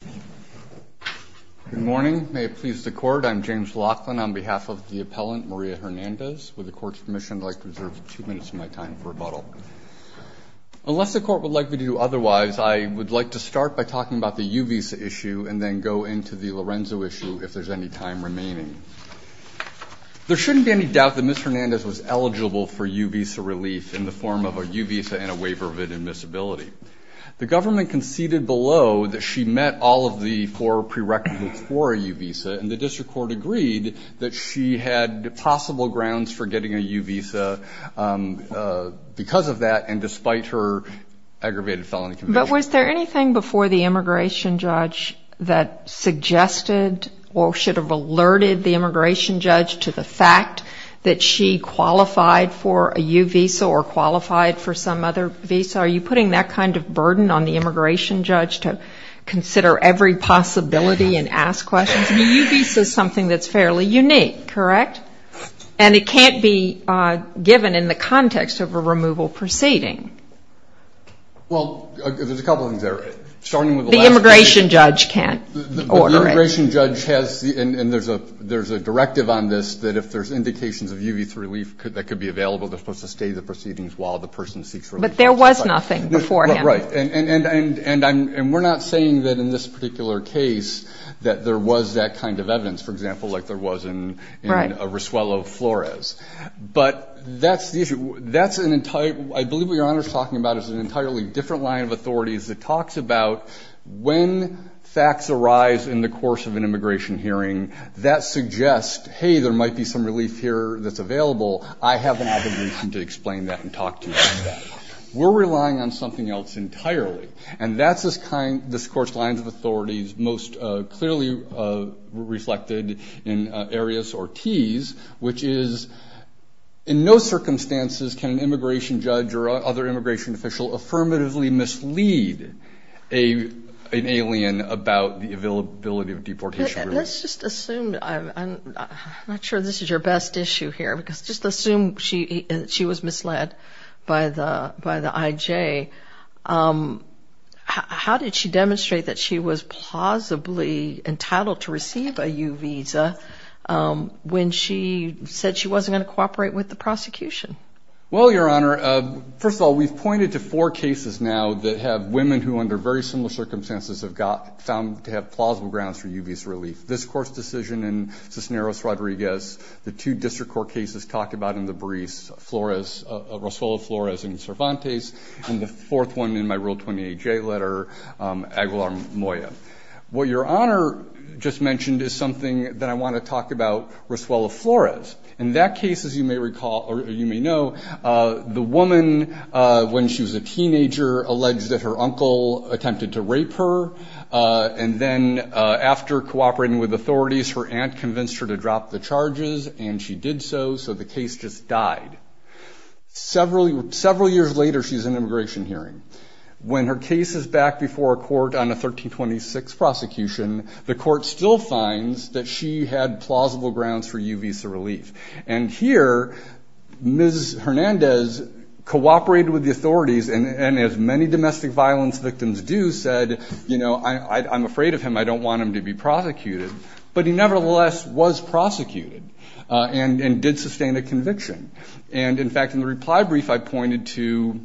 Good morning. May it please the court, I'm James Laughlin on behalf of the appellant Maria Hernandez. With the court's permission, I'd like to reserve two minutes of my time for rebuttal. Unless the court would like me to do otherwise, I would like to start by talking about the U-Visa issue and then go into the Lorenzo issue if there's any time remaining. There shouldn't be any doubt that Ms. Hernandez was eligible for U-Visa relief in the form of a U-Visa and a waiver of inadmissibility. The government conceded below that she met all of the four prerequisites for a U-Visa and the district court agreed that she had possible grounds for getting a U-Visa because of that and despite her aggravated felony conviction. But was there anything before the immigration judge that suggested or should have alerted the immigration judge to the fact that she qualified for a U-Visa or qualified for some other visa? Are you putting that kind of burden on the immigration judge to consider every possibility and ask questions? I mean, U-Visa is something that's fairly unique, correct? And it can't be given in the context of a removal proceeding. Well, there's a couple of things there. Starting with the last thing. The immigration judge can't order it. The immigration judge has and there's a directive on this that if there's indications of U-Visa relief that could be available, they're supposed to stay the proceedings while the person seeks relief. But there was nothing before him. Right. And we're not saying that in this particular case that there was that kind of evidence, for example, like there was in Rosuelo Flores. But that's the issue. That's an entire, I believe what Your Honor is talking about is an entirely different line of authorities that talks about when facts arise in the course of an immigration hearing, that suggests, hey, there might be some relief here that's available. I have no reason to explain that and talk to you about that. We're relying on something else entirely. And that's this kind of discourse, lines of authorities most clearly reflected in Arius Ortiz, which is in no circumstances can an immigration judge or other immigration official affirmatively mislead an alien about the availability of deportation relief. Let's just assume, I'm not sure this is your best issue here, because just assume she was misled by the IJ. How did she demonstrate that she was plausibly entitled to receive a U visa when she said she wasn't going to cooperate with the prosecution? Well, Your Honor, first of all, we've pointed to four cases now that have women who under very similar circumstances have found to have plausible grounds for U visa relief. This court's decision in Cisneros Rodriguez, the two district court cases talked about in the briefs, Roswella Flores and Cervantes, and the fourth one in my Rule 28J letter, Aguilar-Moya. What Your Honor just mentioned is something that I want to talk about Roswella Flores. In that case, as you may recall, or you may know, the woman, when she was a teenager, alleged that her uncle attempted to rape her. And then after cooperating with authorities, her aunt convinced her to drop the case, and she did so, so the case just died. Several years later, she's in immigration hearing. When her case is back before a court on a 1326 prosecution, the court still finds that she had plausible grounds for U visa relief. And here, Ms. Hernandez cooperated with the authorities, and as many domestic violence victims do, said, you know, I'm afraid of him, I don't want him to be prosecuted. But he nevertheless was prosecuted, and did sustain a conviction. And in fact, in the reply brief, I pointed to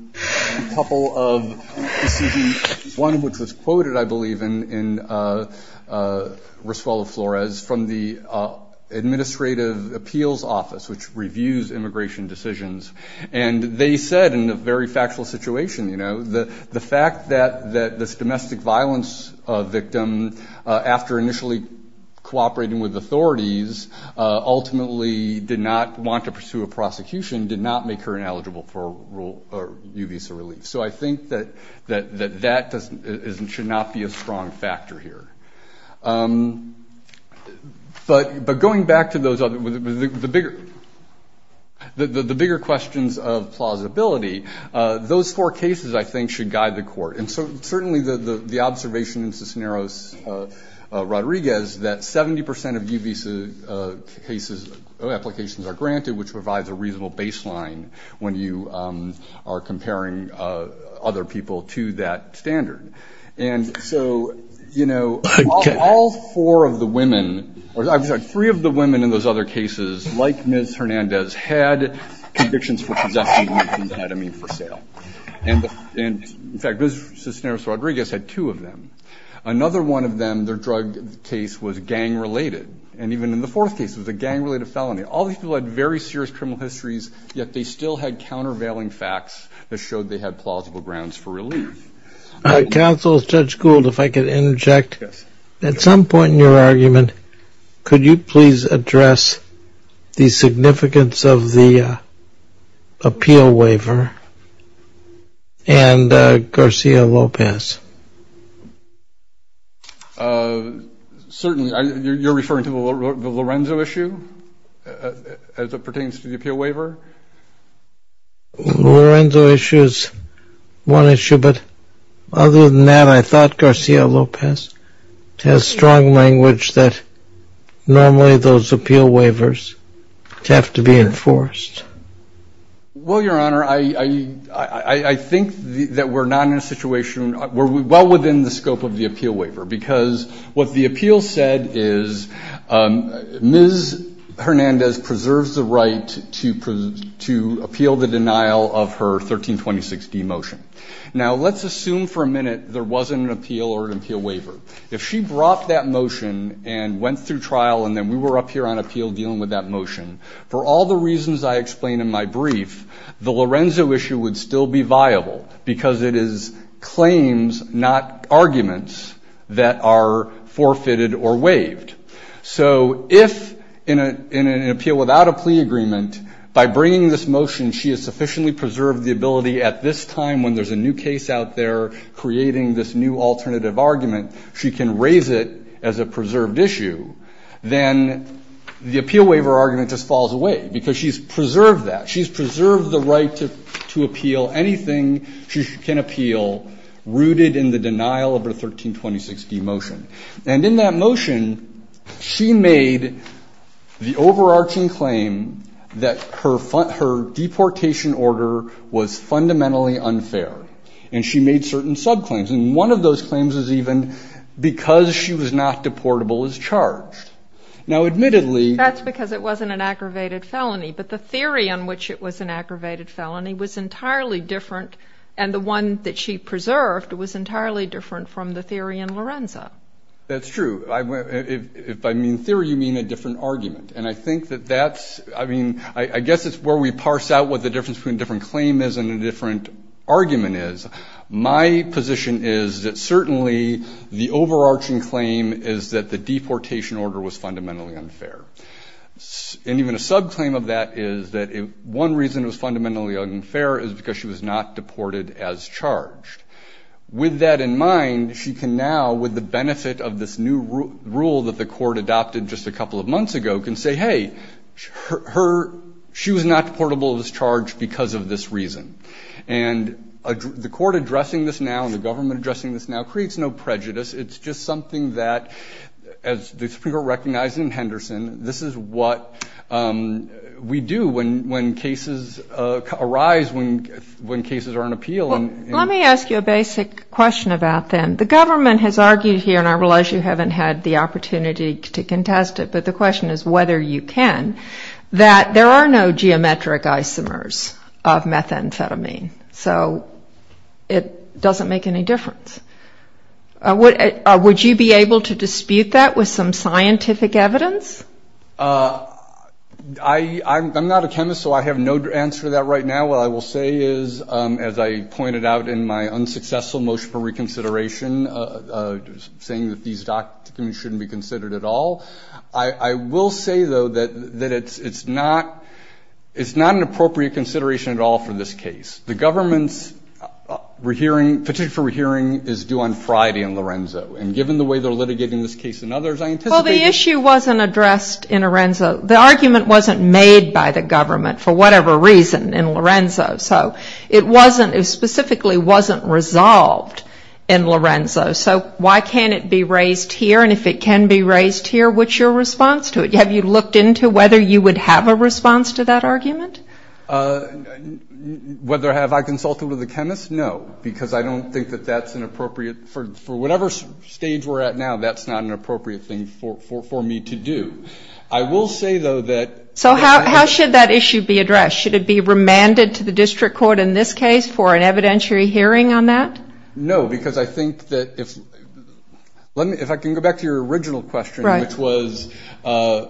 a couple of decisions, one of which was quoted, I believe, in Roswella Flores, from the Administrative Appeals Office, which reviews immigration decisions. And they said, in a very factual situation, you know, the fact that this domestic violence victim, after initially cooperating with authorities, ultimately did not want to pursue a prosecution, did not make her ineligible for U visa relief. So I think that that should not be a strong factor here. But going back to the bigger questions of plausibility, those four cases, I think, should guide the court. And so certainly the observation in Cisneros-Rodriguez that 70% of U visa cases, applications are granted, which provides a reasonable baseline when you are comparing other people to that standard. And so, you know, all four of the women, or I'm sorry, three of the women in those other cases, like Ms. Hernandez, had convictions for possessing methamphetamine for sale. And in fact, Cisneros-Rodriguez had two of them. Another one of them, their drug case, was gang-related. And even in the fourth case, it was a gang-related felony. All these people had very serious criminal histories, yet they still had countervailing facts that showed they had plausible grounds for relief. All right. Counsel, Judge Gould, if I could interject. At some point in your And Garcia-Lopez? Certainly. You're referring to the Lorenzo issue, as it pertains to the appeal waiver? Lorenzo issue is one issue, but other than that, I thought Garcia-Lopez has strong language that normally those appeal waivers have to be enforced. Well, Your Honor, I think that we're not in a situation, we're well within the scope of the appeal waiver, because what the appeal said is Ms. Hernandez preserves the right to appeal the denial of her 1326D motion. Now, let's assume for a minute there wasn't an appeal or an appeal waiver. If she brought that motion and went through trial and then we were up here on appeal dealing with that motion, for all the reasons I explained in my brief, the Lorenzo issue would still be viable, because it is claims, not arguments that are forfeited or waived. So if in an appeal without a plea agreement, by bringing this motion she has sufficiently preserved the ability at this time when there's a new case out there creating this new alternative argument, she can raise it as a And in that motion, she made the overarching claim that her deportation order was fundamentally unfair. And she made certain subclaims. And one of those claims was even, because she was not deportable, is charged. Now, admittedly... It wasn't an aggravated felony. But the theory on which it was an aggravated felony was entirely different. And the one that she preserved was entirely different from the theory in Lorenzo. That's true. If I mean theory, you mean a different argument. And I think that that's, I mean, I guess it's where we parse out what the difference between a different claim is and a different argument is. My position is that certainly the overarching claim is that the deportation order was fundamentally unfair. And even a subclaim of that is that one reason it was fundamentally unfair is because she was not deported as charged. With that in mind, she can now, with the benefit of this new rule that the court adopted just a couple of months ago, can say, hey, her, she was not deportable as charged because of this reason. And the court addressing this now and the government addressing this now creates no prejudice. It's just something that, as the Supreme Court recognized in Henderson, this is what we do when cases arise, when cases are an appeal. Well, let me ask you a basic question about them. The government has argued here, and I realize you haven't had the opportunity to contest it, but the government has argued that the government has not been able to dispute that amphetamine. So it doesn't make any difference. Would you be able to dispute that with some scientific evidence? I'm not a chemist, so I have no answer to that right now. What I will say is, as I pointed out in my unsuccessful motion for reconsideration, saying that these documents shouldn't be considered at all, I will say, though, that it's not an appropriate consideration at all for this case. The government's petition for re-hearing is due on Friday in Lorenzo. And given the way they're litigating this case and others, I anticipate... Well, the issue wasn't addressed in Lorenzo. The argument wasn't made by the government for whatever reason in Lorenzo. So it specifically wasn't resolved in Lorenzo. So why can't it be raised here? And if it can be raised here, what's your response to it? Have you looked into whether you would have a response to that argument? Whether have I consulted with a chemist? No, because I don't think that that's an appropriate... For whatever stage we're at now, that's not an appropriate thing for me to do. I will say, though, that... So how should that issue be addressed? Should it be remanded to the district court in this case for an evidentiary hearing on that? No, because I think that if... If I can go back to your original question, which was that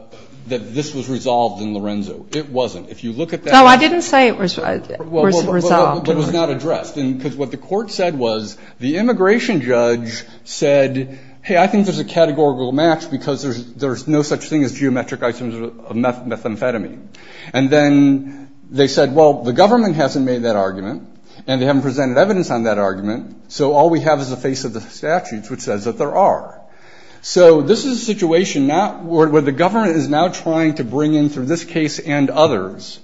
this was resolved in Lorenzo. It wasn't. If you look at that... No, I didn't say it was resolved. But it was not addressed. Because what the court said was the immigration judge said, hey, I think there's a categorical match because there's no such thing as geometric isoms of methamphetamine. And then they said, well, the government hasn't made that argument, and they haven't presented evidence on that argument, so all we have is the face of the statutes, which says that there are. So this is a situation where the government is now trying to bring in, through this case and others,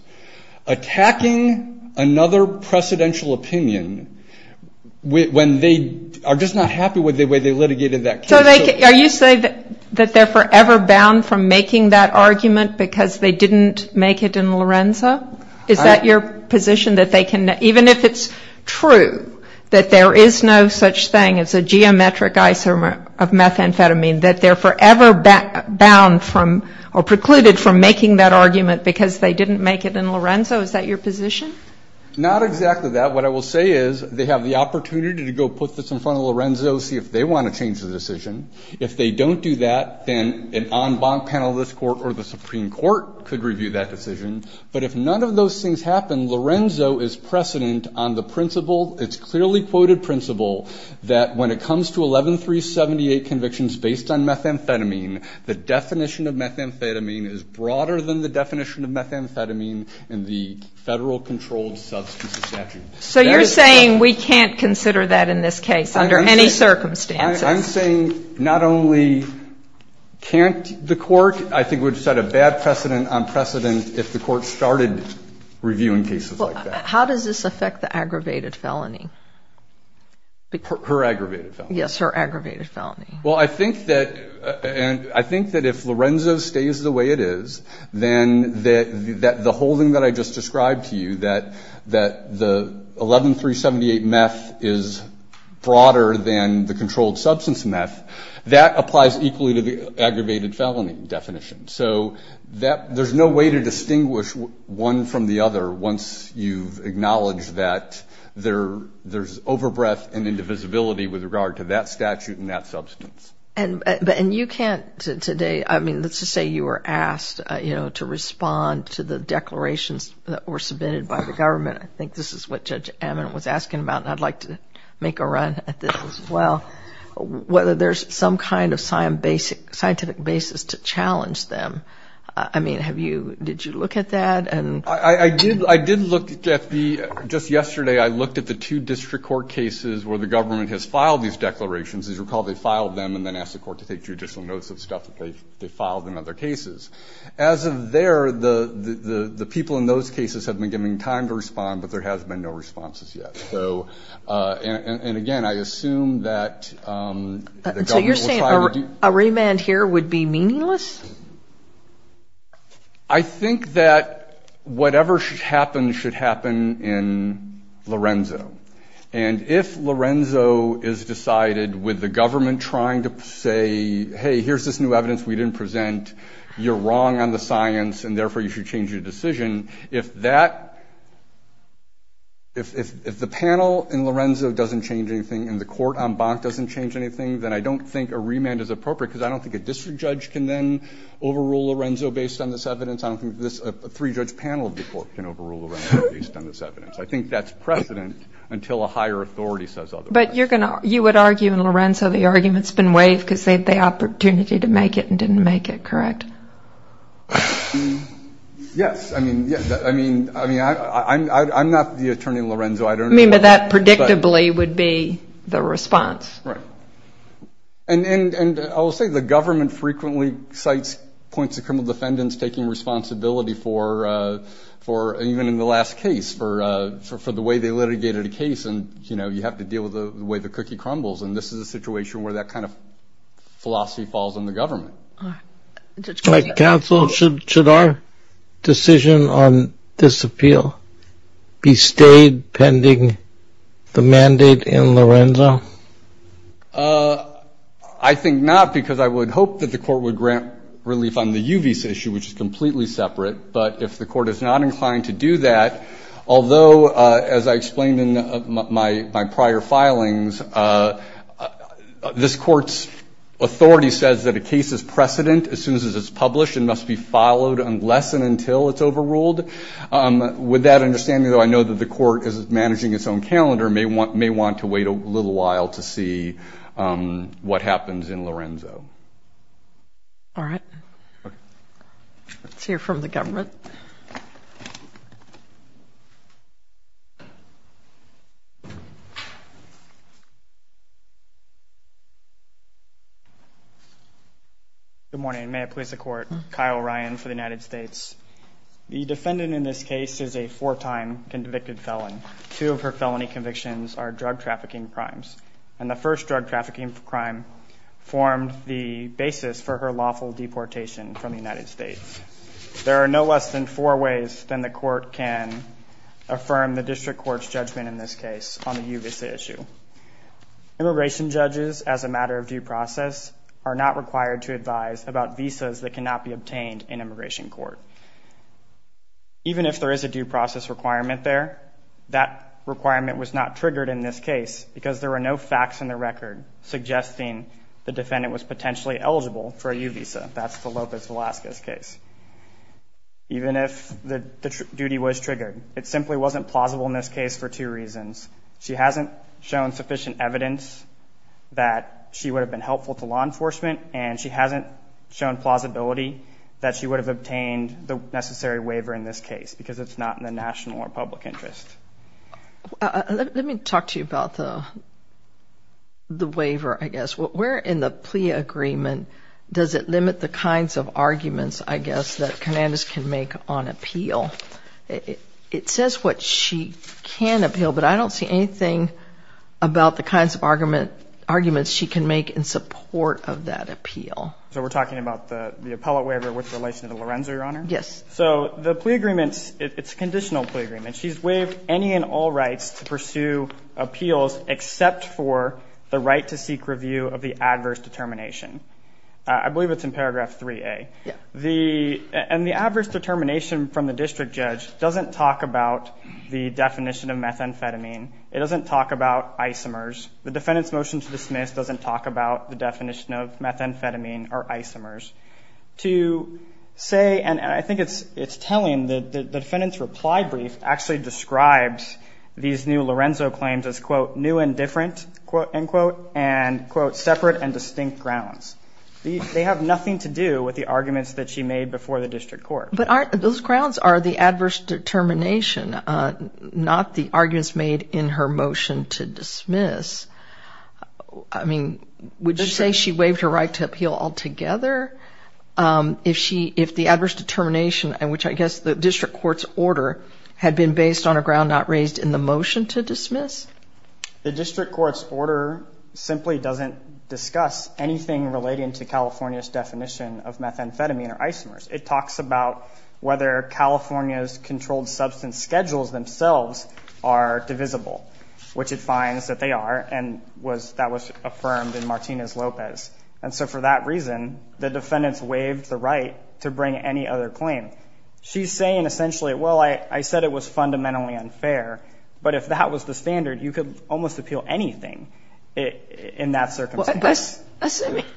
attacking another precedential opinion when they are just not happy with the way they litigated that case. So they... Are you saying that they're forever bound from making that argument because they didn't make it in Lorenzo? Is that your position, that they can... Even if it's true that there is no such thing as a geometric isomer of methamphetamine, that they're forever bound from or precluded from making that argument because they didn't make it in Lorenzo? Is that your position? Not exactly that. What I will say is they have the opportunity to go put this in front of Lorenzo, see if they want to change the decision. If they don't do that, then an en banc panel of this court or the Supreme Court could review that decision. But if none of those things happen, Lorenzo is precedent on the principle, it's clearly quoted principle, that when it comes to 11378 convictions based on methamphetamine, the definition of methamphetamine is broader than the definition of methamphetamine in the federal controlled substance statute. So you're saying we can't consider that in this case, under any circumstances? I'm saying not only can't the court, I think would set a bad precedent on precedent if the court started reviewing cases like that. How does this affect the aggravated felony? Her aggravated felony? Yes, her aggravated felony. Well, I think that if Lorenzo stays the way it is, then the whole thing that I just described to you, that the 11378 meth is broader than the controlled substance meth, that applies equally to the aggravated felony definition. So there's no way to distinguish one from the other once you've acknowledged that there's over-breath and indivisibility with regard to that statute and that substance. And you can't today, I mean, let's just say you were asked, you know, to respond to the declarations that were submitted by the government, I think this is what Judge Ammon was asking about, and I'd like to make a run at this as well, whether there's some kind of scientific basis to challenge them. I mean, have you, did you look at that? I did look at the, just yesterday I looked at the two district court cases where the government has filed these declarations. As you recall, they filed them and then asked the court to take judicial notes of stuff that they filed in other cases. As of there, the people in those cases have been giving time to respond, but there has been no responses yet. And again, I assume that the government will try to do... So you're saying a remand here would be meaningless? I think that whatever should happen should happen in Lorenzo. And if Lorenzo is decided with the government trying to say, hey, here's this new evidence we didn't present, you're wrong on the science and therefore you should change your decision, if that, if the panel in Lorenzo doesn't change anything and the court on Bonk doesn't change anything, then I don't think a district judge can then overrule Lorenzo based on this evidence. I don't think a three-judge panel of the court can overrule Lorenzo based on this evidence. I think that's precedent until a higher authority says otherwise. But you would argue in Lorenzo the argument's been waived because they had the opportunity to make it and didn't make it, correct? Yes. I mean, I'm not the attorney in Lorenzo. I don't know... I mean, but that predictably would be the response. Right. And I will say the government frequently cites points of criminal defendants taking responsibility for, even in the last case, for the way they litigated a case and, you know, you have to deal with the way the cookie crumbles. And this is a situation where that kind of philosophy falls on the government. Counsel, should our decision on this appeal be stayed pending the mandate in Lorenzo? I think not, because I would hope that the court would grant relief on the Yuvis issue, which is completely separate. But if the court is not inclined to do that, although, as I explained in my prior filings, this court's authority says that a case is precedent as soon as it's published and must be followed unless and until it's overruled. With that understanding, though, I know that the court is managing its own calendar and may want to wait a little while to see what happens in Lorenzo. All right. Let's hear from the government. Good morning. May I please the court? Kyle Ryan for the United States. The defendant in this case is a four-time convicted felon. Two of her felony convictions are drug trafficking crimes. And the first drug trafficking crime formed the basis for her lawful deportation from the United States. There are no less than four ways than the court can affirm the district court's judgment in this case on the Yuvis issue. Immigration judges, as a matter of due process, are not required to advise about visas that cannot be obtained in immigration court. Even if there is a visa, that requirement was not triggered in this case because there are no facts in the record suggesting the defendant was potentially eligible for a Yuvisa. That's the Lopez Velasquez case. Even if the duty was triggered, it simply wasn't plausible in this case for two reasons. She hasn't shown sufficient evidence that she would have been helpful to law enforcement, and she hasn't shown plausibility that she would have obtained the necessary evidence to make her case more public interest. Let me talk to you about the waiver, I guess. Where in the plea agreement does it limit the kinds of arguments, I guess, that Hernandez can make on appeal? It says what she can appeal, but I don't see anything about the kinds of arguments she can make in support of that appeal. So we're talking about the appellate waiver with relation to Lorenzo, Your Honor? Yes. So the plea agreement, it's a conditional plea agreement. She's waived any and all rights to pursue appeals except for the right to seek review of the adverse determination. I believe it's in paragraph 3A. And the adverse determination from the district judge doesn't talk about the definition of methamphetamine. It doesn't talk about isomers. The defendant's motion to dismiss doesn't talk about the definition of methamphetamine or isomers. To say anything, and I think it's telling, the defendant's reply brief actually describes these new Lorenzo claims as, quote, new and different, end quote, and quote, separate and distinct grounds. They have nothing to do with the arguments that she made before the district court. But those grounds are the adverse determination, not the arguments made in her motion to dismiss. I mean, would you say she waived her right to appeal altogether if the adverse determination, which I guess the district court's order, had been based on a ground not raised in the motion to dismiss? The district court's order simply doesn't discuss anything relating to California's definition of methamphetamine or isomers. It talks about whether California's controlled substance schedules themselves are affirmed in Martinez-Lopez. And so for that reason, the defendant's waived the right to bring any other claim. She's saying essentially, well, I said it was fundamentally unfair, but if that was the standard, you could almost appeal anything in that circumstance.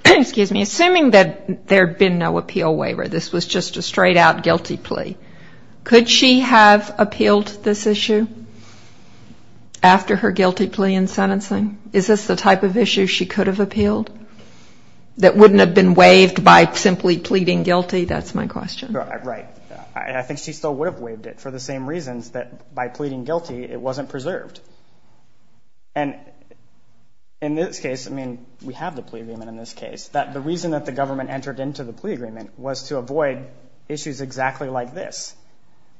Excuse me. Assuming that there had been no appeal waiver, this was just a straight-out guilty plea, could she have appealed this issue after her guilty plea? Is there any other type of issue she could have appealed that wouldn't have been waived by simply pleading guilty? That's my question. Right. I think she still would have waived it for the same reasons that by pleading guilty, it wasn't preserved. And in this case, I mean, we have the plea agreement in this case. The reason that the government entered into the plea agreement was to avoid issues exactly like this.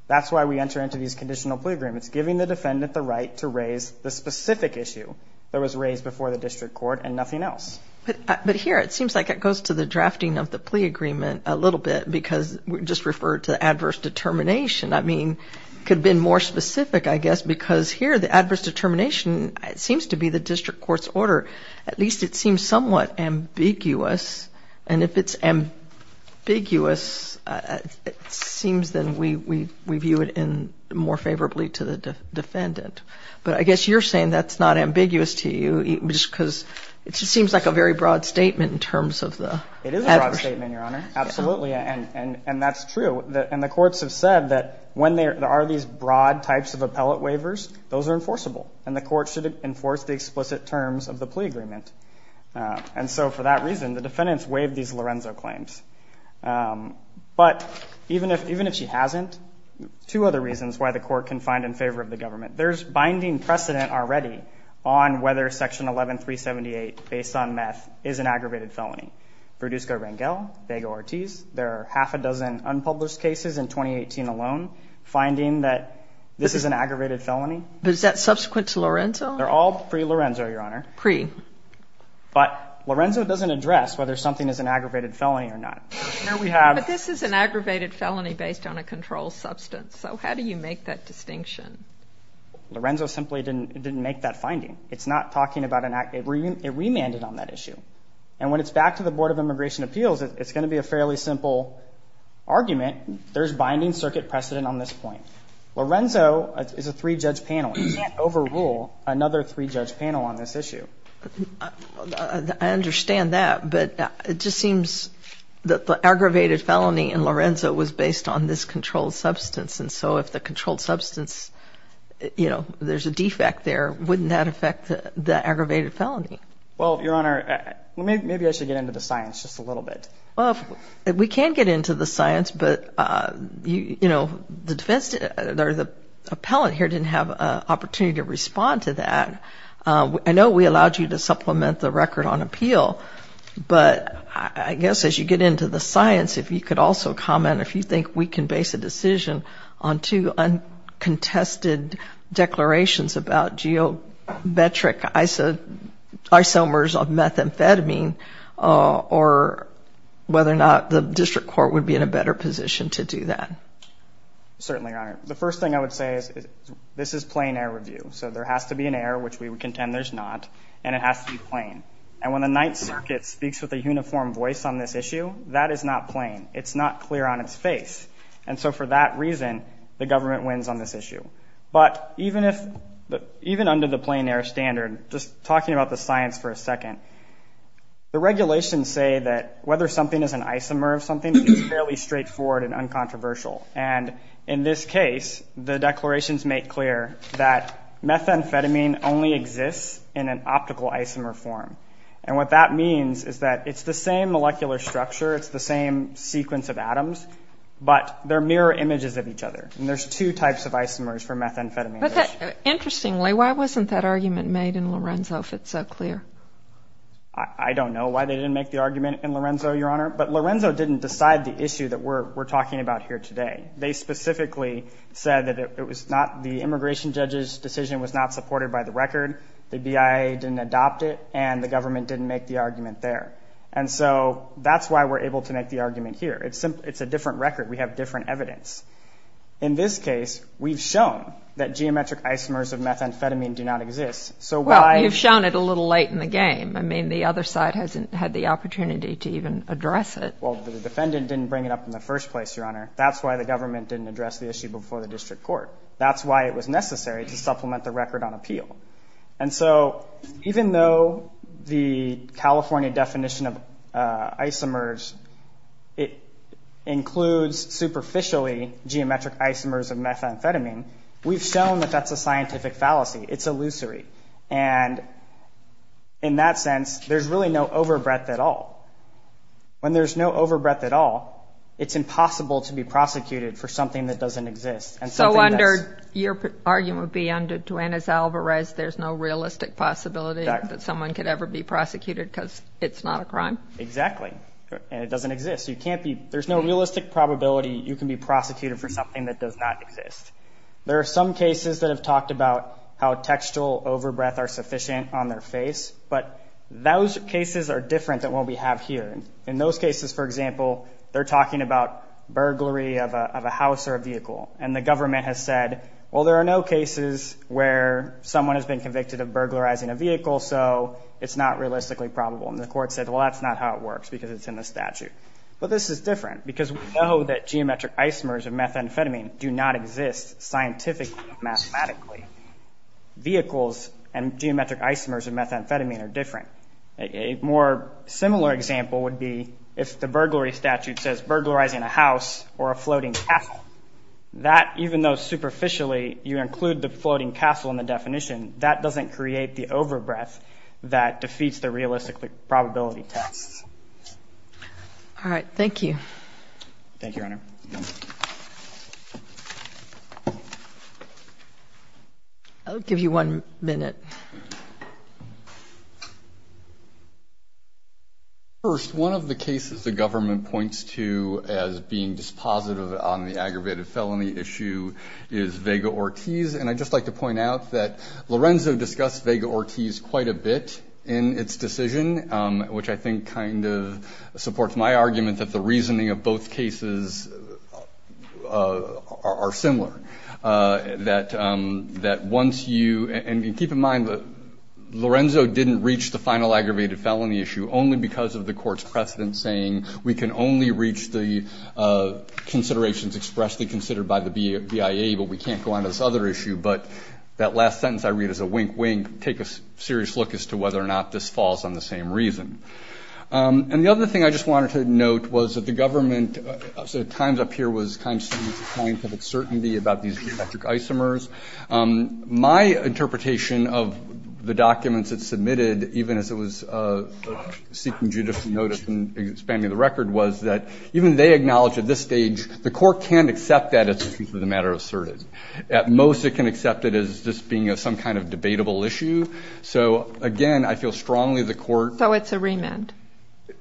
That's why we enter into these conditional plea agreements, giving the defendant the right to raise the specific issue that was raised before the district court and nothing else. But here, it seems like it goes to the drafting of the plea agreement a little bit because we just referred to adverse determination. I mean, it could have been more specific, I guess, because here the adverse determination seems to be the district court's order. At least it seems somewhat ambiguous. And if it's ambiguous, it seems then we view it more favorably to the defendant. But I guess you're saying that's not ambiguous to you because it just seems like a very broad statement in terms of the adverse. It is a broad statement, Your Honor. Absolutely. And that's true. And the courts have said that when there are these broad types of appellate waivers, those are enforceable. And the court should enforce the explicit terms of the plea agreement. And so for that reason, the defendants waived these Lorenzo claims. But even if she hasn't, two other reasons why the court can find in favor of the government. There's binding precedent already on whether Section 11378, based on meth, is an aggravated felony. Produsco-Rangel, Vega-Ortiz. There are half a dozen unpublished cases in 2018 alone finding that this is an aggravated felony. But is that subsequent to Lorenzo? They're all pre-Lorenzo, Your Honor. Pre. But Lorenzo doesn't address whether something is an aggravated felony or not. No, we have. But this is an aggravated felony based on a controlled substance. So how do you make that distinction? Lorenzo simply didn't make that finding. It's not talking about an act. It remanded on that issue. And when it's back to the Board of Immigration Appeals, it's going to be a fairly simple argument. There's binding circuit precedent on this point. Lorenzo is a three-judge panel. You can't overrule another three-judge panel on this issue. I understand that. But it just seems that the aggravated felony in Lorenzo was based on this controlled substance. And so if the controlled substance, you know, there's a defect there, wouldn't that affect the aggravated felony? Well, Your Honor, maybe I should get into the science just a little bit. Well, we can get into the science. But, you know, the defense or the district court can respond to that. I know we allowed you to supplement the record on appeal. But I guess as you get into the science, if you could also comment if you think we can base a decision on two uncontested declarations about geometric isomers of methamphetamine or whether or not the district court would be in a better position to do that. Certainly, Your Honor. The first thing I would say is this is plain air review. So there has to be an error, which we would contend there's not, and it has to be plain. And when the Ninth Circuit speaks with a uniform voice on this issue, that is not plain. It's not clear on its face. And so for that reason, the government wins on this issue. But even under the plain air standard, just talking about the science for a second, the regulations say that whether something is an isomer of something is fairly straightforward and that methamphetamine only exists in an optical isomer form. And what that means is that it's the same molecular structure, it's the same sequence of atoms, but they're mirror images of each other. And there's two types of isomers for methamphetamine. But that, interestingly, why wasn't that argument made in Lorenzo if it's so clear? I don't know why they didn't make the argument in Lorenzo, Your Honor. But Lorenzo didn't decide the issue that we're talking about here today. They specifically said that it was not, the immigration judge's decision was not supported by the record, the BIA didn't adopt it, and the government didn't make the argument there. And so that's why we're able to make the argument here. It's a different record. We have different evidence. In this case, we've shown that geometric isomers of methamphetamine do not exist, so why Well, you've shown it a little late in the game. I mean, the other side hasn't had the opportunity to even address it. Well, the defendant didn't bring it up in the first place, Your Honor. That's why the government didn't address the issue before the district court. That's why it was necessary to supplement the record on appeal. And so even though the California definition of isomers, it includes superficially geometric isomers of methamphetamine, we've shown that that's a scientific fallacy. It's illusory. And in that sense, there's really no overbreadth at all. When there's no overbreadth at all, it's impossible to be prosecuted for something that doesn't exist. So your argument would be, under Duanez-Alvarez, there's no realistic possibility that someone could ever be prosecuted because it's not a crime? Exactly. And it doesn't exist. There's no realistic probability you can be prosecuted for something that does not exist. There are some cases that have talked about how textual overbreadth are sufficient on their face, but those cases, for example, they're talking about burglary of a house or a vehicle. And the government has said, well, there are no cases where someone has been convicted of burglarizing a vehicle, so it's not realistically probable. And the court said, well, that's not how it works because it's in the statute. But this is different because we know that geometric isomers of methamphetamine do not exist scientifically, mathematically. Vehicles and geometric isomers of methamphetamine are different. A more similar example would be if the burglary statute says burglarizing a house or a floating castle. That, even though superficially you include the floating castle in the definition, that doesn't create the overbreadth that defeats the realistic probability tests. Thank you, Your Honor. I'll give you one minute. First, one of the cases the government points to as being dispositive on the aggravated felony issue is Vega Ortiz. And I'd just like to point out that Lorenzo discussed Vega Ortiz quite a bit in its decision, which I think kind of shows that both cases are similar. That once you, and keep in mind that Lorenzo didn't reach the final aggravated felony issue only because of the court's precedent saying we can only reach the considerations expressly considered by the BIA, but we can't go on to this other issue. But that last sentence I read is a wink, wink, take a serious look as to whether or not this falls on the same reason. And the other thing I just wanted to note was that the government at times up here was kind of saying it's a scientific certainty about these geometric isomers. My interpretation of the documents it submitted, even as it was seeking judicial notice and expanding the record, was that even they acknowledge at this stage the court can't accept that as the truth of the matter asserted. At most it can accept it as just being some kind of debatable issue. So, again, I feel strongly the court... So it's a remand?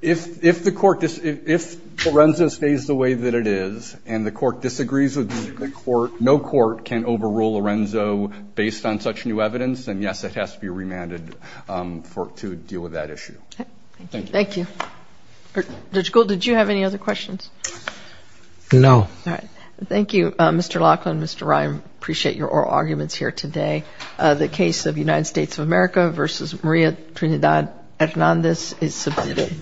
If the court, if Lorenzo stays the way that it is and the court disagrees with the court, no court can overrule Lorenzo based on such new evidence, then yes, it has to be remanded to deal with that issue. Thank you. Thank you. Judge Gould, did you have any other questions? No. All right. Thank you, Mr. Laughlin, Mr. Ryan. I appreciate your oral arguments here today. The case of United States of America versus Maria Trinidad Hernandez is submitted.